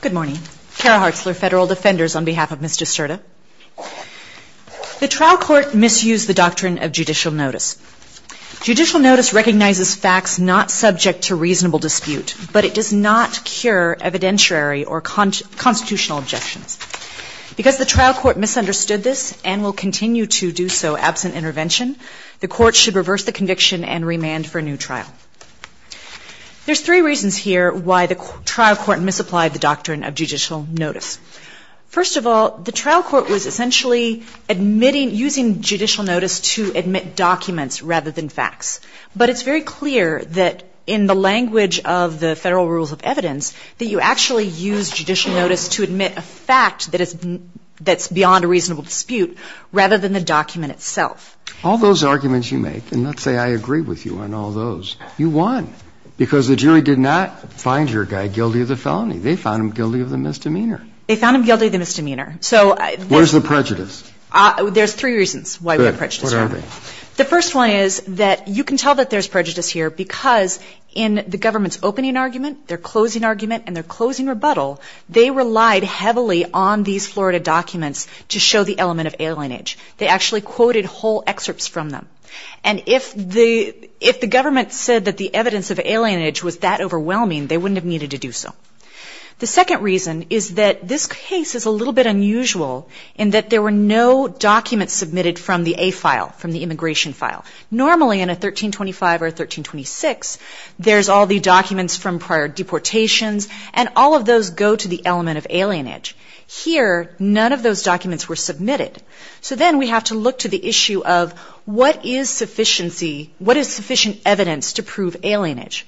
Good morning. Kara Hartzler, Federal Defenders, on behalf of Ms. Descerda. The trial court misused the doctrine of judicial notice. Judicial notice recognizes facts not subject to reasonable dispute, but it does not cure evidentiary or constitutional objections. Because the trial court misunderstood this and will continue to do so absent intervention, the court should reverse the conviction and remand for a new trial. There's three reasons here why the trial court misapplied the doctrine of judicial notice. First of all, the trial court was essentially admitting, using judicial notice to admit documents rather than facts. But it's very clear that in the language of the Federal Rules of Evidence that you actually use judicial notice to admit a fact that is beyond a reasonable dispute rather than the document itself. All those arguments you make, and let's say I agree with you on all those, you won. Because the jury did not find your guy guilty of the felony. They found him guilty of the misdemeanor. They found him guilty of the misdemeanor. So they Where's the prejudice? There's three reasons why we have prejudice here. Good. What are they? The first one is that you can tell that there's prejudice here because in the government's opening argument, their closing argument, and their closing rebuttal, they relied heavily on these Florida documents to show the element of alienage. They actually quoted whole excerpts from them. And if the government said that the evidence of alienage was that overwhelming, they wouldn't have needed to do so. The second reason is that this case is a little bit unusual in that there were no documents submitted from the A file, from the immigration file. Normally in a 1325 or 1326, there's all the documents from prior deportations, and all of those go to the element of alienage. Here, none of those documents were submitted. So then we have to look to the issue of what is sufficiency, what is sufficient evidence to prove alienage?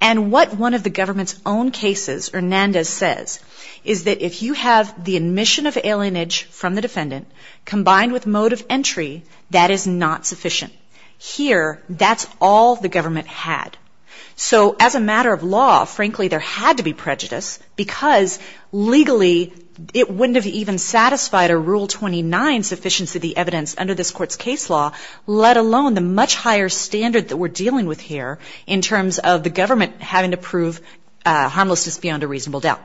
And what one of the government's own cases, Hernandez says, is that if you have the admission of alienage from the defendant combined with mode of entry, that is not sufficient. Here, that's all the government had. So as a matter of law, frankly, there had to be it wouldn't have even satisfied a Rule 29 sufficiency of the evidence under this court's case law, let alone the much higher standard that we're dealing with here in terms of the government having to prove harmlessness beyond a reasonable doubt.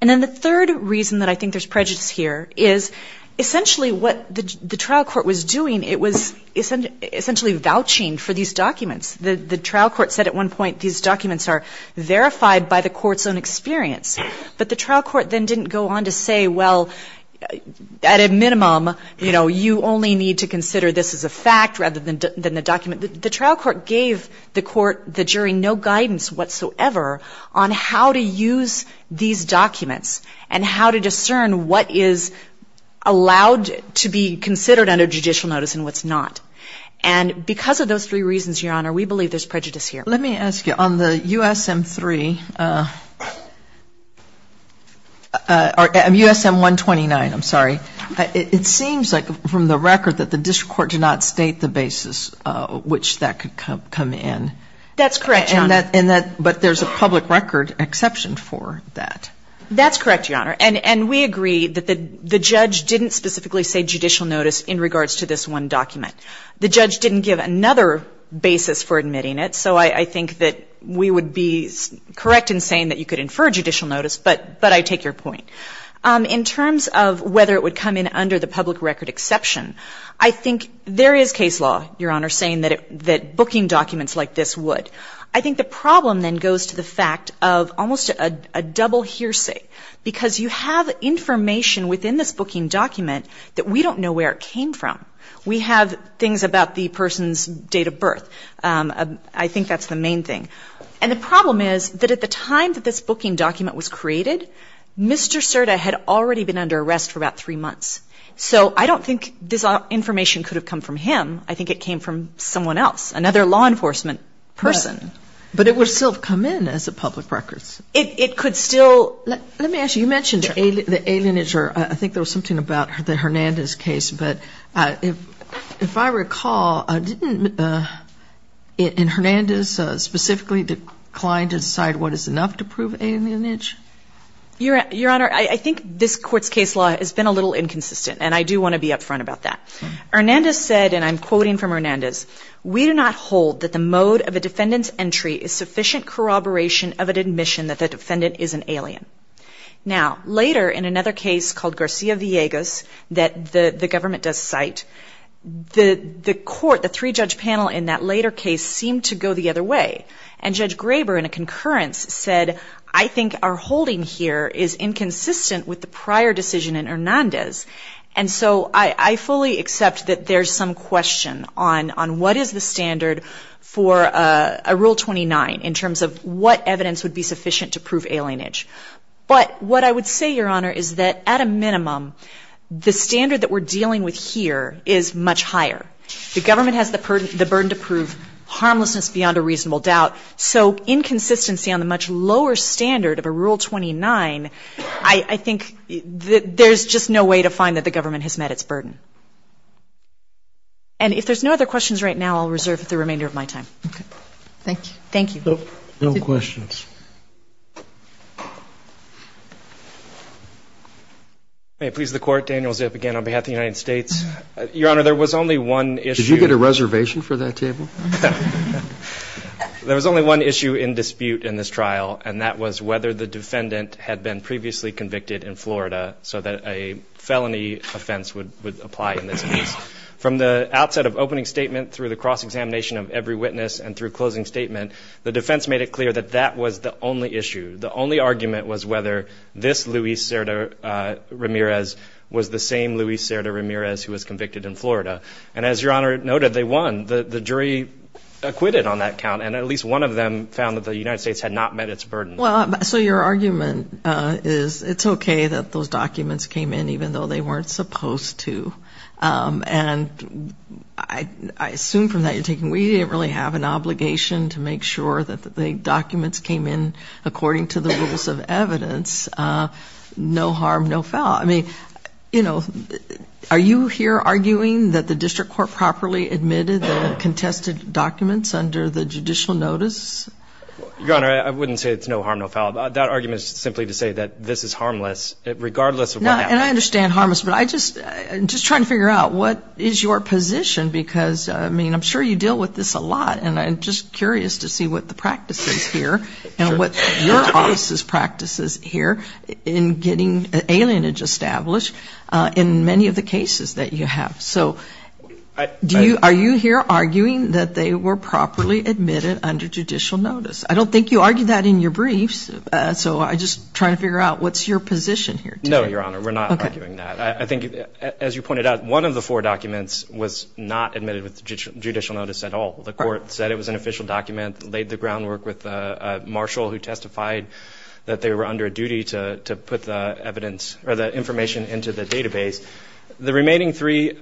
And then the third reason that I think there's prejudice here is essentially what the trial court was doing, it was essentially vouching for these documents. The trial court said at one point, these documents are verified by the court's own experience. But the trial court then didn't go on to say, well, at a minimum, you know, you only need to consider this as a fact rather than the document. The trial court gave the court, the jury, no guidance whatsoever on how to use these documents and how to discern what is allowed to be considered under judicial notice and what's not. And because of those three reasons, Your Honor, we believe there's prejudice here. Let me ask you, on the USM-3 or USM-129, I'm sorry, it seems like from the record that the district court did not state the basis which that could come in. That's correct, Your Honor. But there's a public record exception for that. That's correct, Your Honor. And we agree that the judge didn't specifically say judicial notice in regards to this one document. The judge didn't give another basis for admitting it. So I think that we would be correct in saying that you could infer judicial notice, but I take your point. In terms of whether it would come in under the public record exception, I think there is case law, Your Honor, saying that booking documents like this would. I think the problem then goes to the fact of almost a double hearsay, because you have information within this booking document that we don't know where it came from. We have things about the person's date of birth. I think that's the main thing. And the problem is that at the time that this booking document was created, Mr. Cerda had already been under arrest for about three months. So I don't think this information could have come from him. I think it came from someone else, another law enforcement person. But it would still have come in as a public record. It could still. Let me ask you, you mentioned the alienage, or I think there was something about the Hernandez case, but if I recall, didn't in Hernandez specifically the client decide what is enough to prove alienage? Your Honor, I think this Court's case law has been a little inconsistent, and I do want to be upfront about that. Hernandez said, and I'm quoting from Hernandez, we do not hold that the mode of a defendant's entry is sufficient corroboration of an admission that the defendant is an alien. Now later in another case called Garcia-Villegas that the government does cite, the three-judge panel in that later case seemed to go the other way. And Judge Graber in a concurrence said, I think our holding here is inconsistent with the prior decision in Hernandez. And so I fully accept that there's some question on what is the standard for a Rule 29 in terms of what evidence would be sufficient to prove alienage. But what I would say, Your Honor, is that at a minimum, the standard that we're dealing with here is much higher. The government has the burden to prove harmlessness beyond a reasonable doubt. So inconsistency on the much lower standard of a Rule 29, I think there's just no way to find that the government has met its burden. And if there's no other questions right now, I'll reserve the remainder of my time. Okay. Thank you. Thank you. No questions. May it please the Court, Daniel Zip again on behalf of the United States. Your Honor, there was only one issue. Did you get a reservation for that table? There was only one issue in dispute in this trial, and that was whether the defendant had been previously convicted in Florida so that a felony offense would apply in this case. From the outset of opening statement through the cross-examination of every witness and through closing statement, the defense made it clear that that was the only issue. The only argument was whether this Luis Cerda-Ramirez was the same Luis Cerda-Ramirez who was convicted in Florida. And as Your Honor noted, they won. The jury acquitted on that count, and at least one of them found that the United States had not met its burden. Well, so your argument is it's okay that those documents came in even though they weren't supposed to. And I assume from that you're taking, we didn't really have an obligation to make sure that the documents came in according to the rules of evidence, no harm, no foul. I mean, you know, are you here arguing that the district court properly admitted the contested documents under the judicial notice? Your Honor, I wouldn't say it's no harm, no foul. That argument is simply to say that this is harmless, regardless of what happened. And I understand harmless, but I just, I'm just trying to figure out what is your position because, I mean, I'm sure you deal with this a lot, and I'm just curious to see what the practice is here and what your office's practice is here in getting alienage established in many of the cases that you have. So, do you, are you here arguing that they were properly admitted under judicial notice? I don't think you argued that in your briefs, so I'm just trying to figure out what's your position here today. No, Your Honor, we're not arguing that. I think, as you pointed out, one of the four documents was not admitted with judicial notice at all. The court said it was an official document, laid the groundwork with a marshal who testified that they were under a duty to put the evidence, or the information into the database. The remaining three,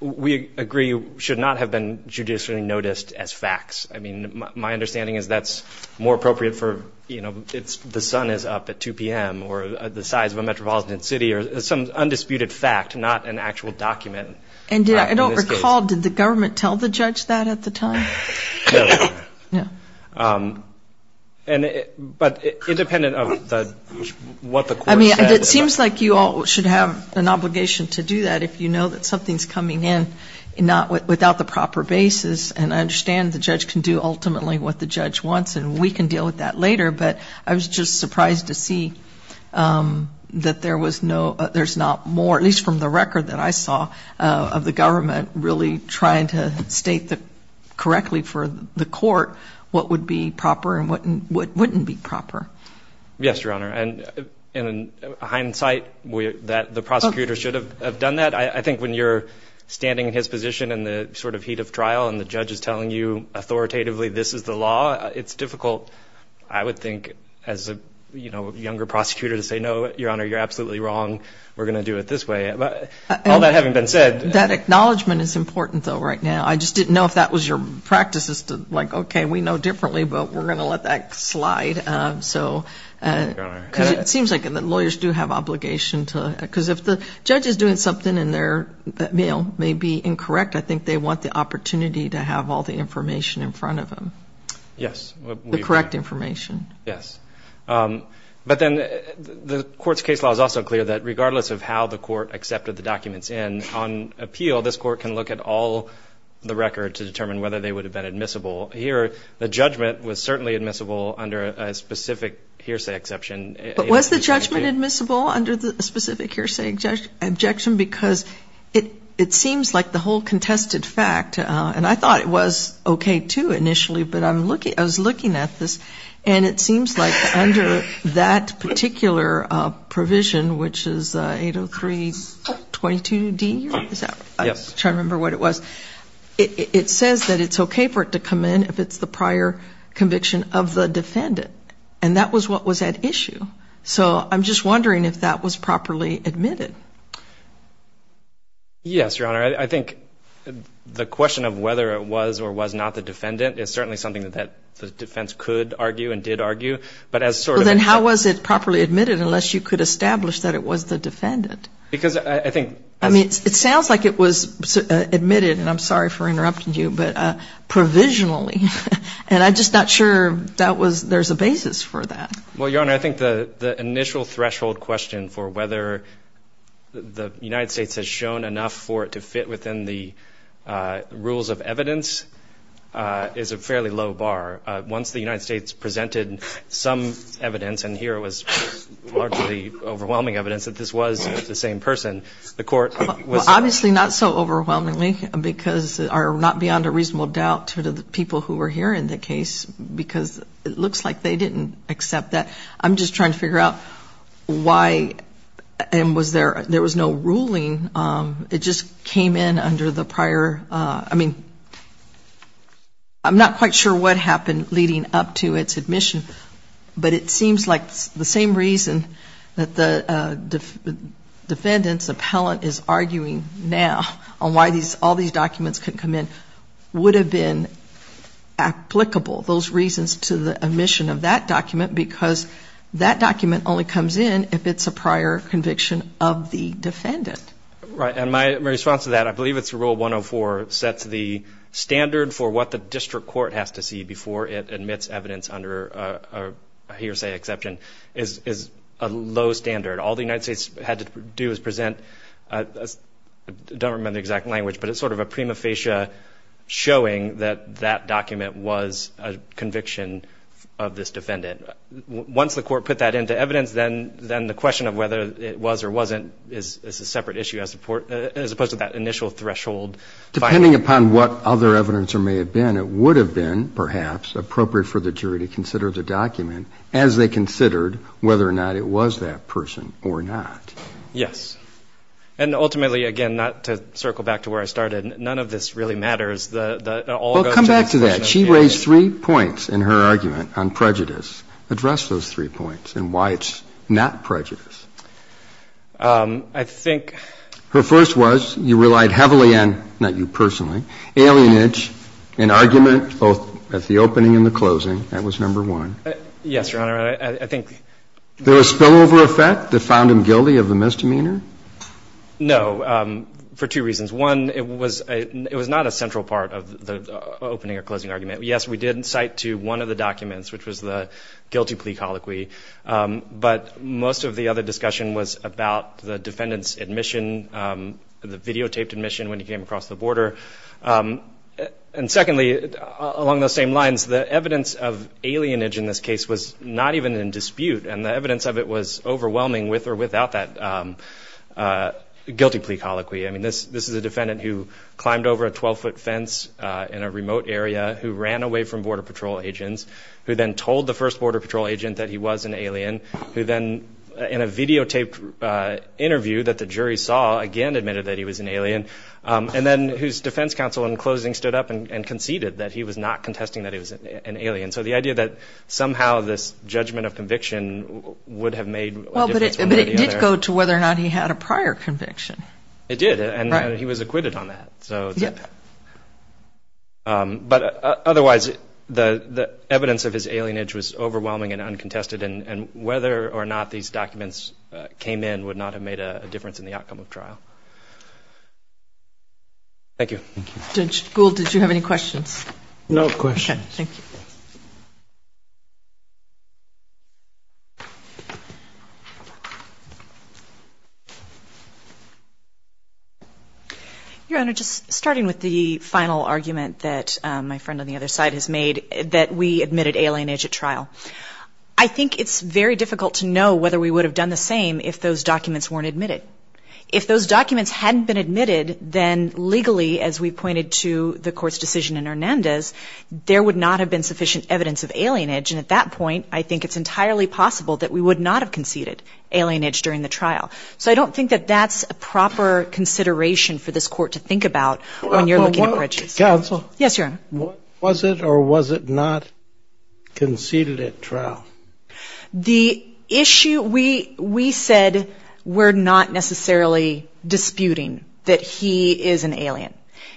we agree, should not have been judicially noticed as facts. I mean, my understanding is that's more appropriate for, you know, the sun is up at 2 p.m. or the size of a metropolitan city or some undisputed fact, not an actual document. And I don't recall, did the government tell the judge that at the time? No. But independent of what the court said. I mean, it seems like you all should have an obligation to do that if you know that something's coming in without the proper basis, and I understand the judge can do ultimately what the judge wants and we can deal with that later, but I was just surprised to see that there was no, there's not more, at least from the record that I saw, of the government really trying to state that correctly for the court what would be proper and what wouldn't be proper. Yes, Your Honor, and in hindsight, that the prosecutor should have done that. I think when you're standing in his position in the sort of heat of trial and the judge is telling you authoritatively this is the law, it's difficult, I would think, as a, you know, younger prosecutor to say no, Your Honor, you're absolutely wrong, we're going to do it this way. All that having been said. That acknowledgment is important, though, right now. I just didn't know if that was your practice as to, like, okay, we know differently, but we're going to let that slide. So it seems like the lawyers do have obligation to, because if the judge is doing something and their mail may be incorrect, I think they want the opportunity to have all the information in front of them. Yes. The correct information. Yes. But then the court's case law is also clear that regardless of how the court accepted the documents in, on appeal, this court can look at all the record to determine whether they would have been admissible. Here, the judgment was certainly admissible under a specific hearsay exception. But was the judgment admissible under the specific hearsay objection? Because it seems like the whole contested fact, and I thought it was okay, too, initially, but I'm looking, I was looking at this, and it seems like under that particular provision, which is 803.22d, is that? Yes. I'm trying to remember what it was. It says that it's okay for it to come in if it's the prior conviction of the defendant. And that was what was at issue. So I'm just wondering if that was properly admitted. Yes, Your Honor. I think the question of whether it was or was not the defendant is certainly something that the defense could argue and did argue. But as sort of a Well, then how was it properly admitted unless you could establish that it was the defendant? Because I think I mean, it sounds like it was admitted, and I'm sorry for interrupting you, but provisionally. And I'm just not sure that was, there's a basis for that. Well, Your Honor, I think the initial threshold question for whether the United States has shown enough for it to fit within the rules of evidence is a fairly low bar. Once the United States presented some evidence, and here it was largely overwhelming evidence that this was the same person, the court was Well, obviously not so overwhelmingly because, or not beyond a reasonable doubt to the people who were hearing the case, because it looks like they didn't accept that. I'm just trying to figure out why, and was there, there was no ruling. It just came in under the prior I mean, I'm not quite sure what happened leading up to its admission, but it seems like the same reason that the defendant's appellant is arguing now on why all these documents couldn't come in would have been applicable, those reasons to the admission of that document, because that document only comes in if it's a prior conviction of the defendant. Right, and my response to that, I believe it's Rule 104, sets the standard for what the district court has to see before it admits evidence under a hearsay exception is a low standard. All the United States had to do is present, I don't remember the exact language, but it's sort of a prima facie showing that that document was a conviction of this defendant. Once the court put that into evidence, then the question of whether it was or wasn't is a separate issue as opposed to that initial threshold. Depending upon what other evidence there may have been, it would have been, perhaps, appropriate for the jury to consider the document as they considered whether or not it was that person or not. Yes. And ultimately, again, not to circle back to where I started, none of this really matters. All that goes to the submission of evidence. Well, come back to that. She raised three points in her argument on prejudice. Address those three points and why it's not prejudice. I think Her first was, you relied heavily on, not you personally, alienage in argument both at the opening and the closing. That was number one. Yes, Your Honor, I think There was spillover effect that found him guilty of the misdemeanor? No, for two reasons. One, it was not a central part of the opening or closing argument. Yes, we did cite to one of the documents, which was the guilty plea colloquy, but most of the other discussion was about the defendant's admission, the videotaped admission when he came across the border. And secondly, along those same lines, the evidence of alienage in this case was not even in dispute, and the evidence of it was overwhelming with or without that guilty plea colloquy. I mean, this is a defendant who climbed over a 12-foot fence in a remote area, who ran away from Border Patrol agents, who then told the first Border Patrol agent that he was an alien, who then, in a videotaped interview that the jury saw, again admitted that he was an alien, and then whose defense counsel in closing stood up and conceded that he was not contesting that he was an alien. So the idea that somehow this judgment of conviction would have made a difference from one idea to the other. Well, but it did go to whether or not he had a prior conviction. It did, and he was acquitted on that. Yes. But otherwise, the evidence of his alienage was overwhelming and uncontested, and whether or not these documents came in would not have made a difference in the outcome of trial. Thank you. Thank you. Judge Gould, did you have any questions? No questions. Okay. Thank you. Your Honor, just starting with the final argument that my friend on the other side has made, that we admitted alienage at trial. I think it's very difficult to know whether we would have done the same if those documents weren't admitted. If those documents hadn't been admitted, then legally, as we pointed to the Court's decision in Hernandez, there would not have been sufficient evidence of alienage. And at that point, I think it's entirely possible that we would not have conceded alienage during the trial. So I don't think that that's a proper consideration for this Court to think about when you're looking at breaches. Counsel? Yes, Your Honor. Was it or was it not conceded at trial? The issue, we said we're not necessarily disputing that he is an alien.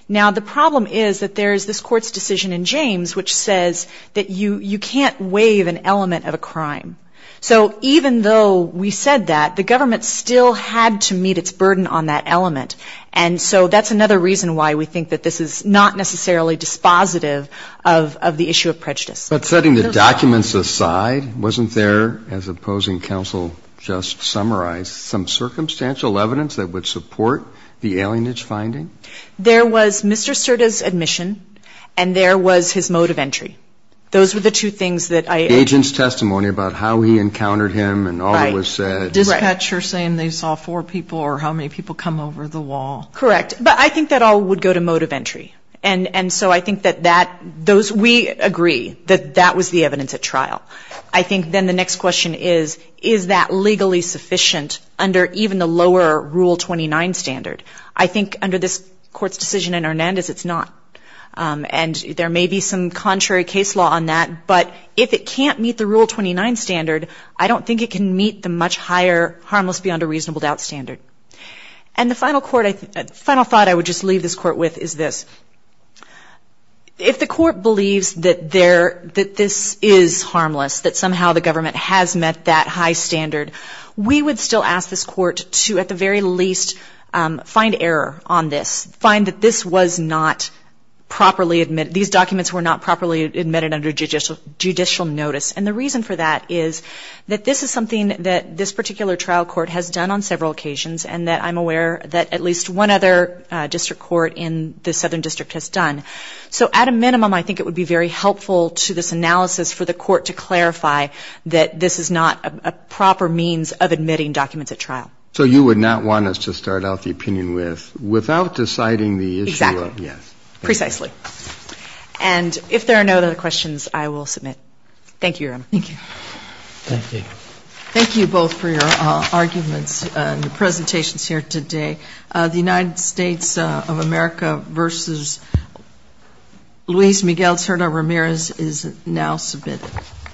Now, the problem is that there's this Court's decision in James which says that you can't waive an element of a crime. So even though we said that, the government still had to meet its burden on that element. And so that's another reason why we think that this is not necessarily dispositive of the issue of prejudice. But setting the documents aside, wasn't there, as opposing counsel just summarized, some circumstantial evidence that would support the alienage finding? There was Mr. Cerda's admission and there was his mode of entry. Those were the two things that I... Agent's testimony about how he encountered him and all that was said. Right. Dispatcher saying they saw four people or how many people come over the wall. Correct. But I think that all would go to mode of entry. And so I think that that, those, we agree that that was the evidence at trial. I think then the next question is, is that legally sufficient under even the lower Rule 29 standard? I think under this Court's decision in Hernandez, it's not. And there may be some contrary case law on that, but if it can't meet the Rule 29 standard, I don't think it can meet the much higher harmless beyond a reasonable doubt standard. And the final thought I would just leave this Court with is this. If the Court believes that there, that this is harmless, that somehow the government has met that high standard, we would still ask this Court to at the very least find error on this. Find that this was not properly admitted. These documents were not properly admitted under judicial notice. And the reason for that is that this is something that this particular trial court has done on several occasions and that I'm aware that at least one other district court in the Southern District has done. So at a minimum, I think it would be very helpful to this analysis for the Court to clarify that this is not a proper means of admitting documents at trial. So you would not want us to start out the opinion with, without deciding the issue of yes. Exactly. Precisely. And if there are no other questions, I will submit. Thank you, Your Honor. Thank you. Thank you. Thank you both for your arguments and presentations here today. The United States of America v. Luis Miguel Terno-Ramirez is now submitted.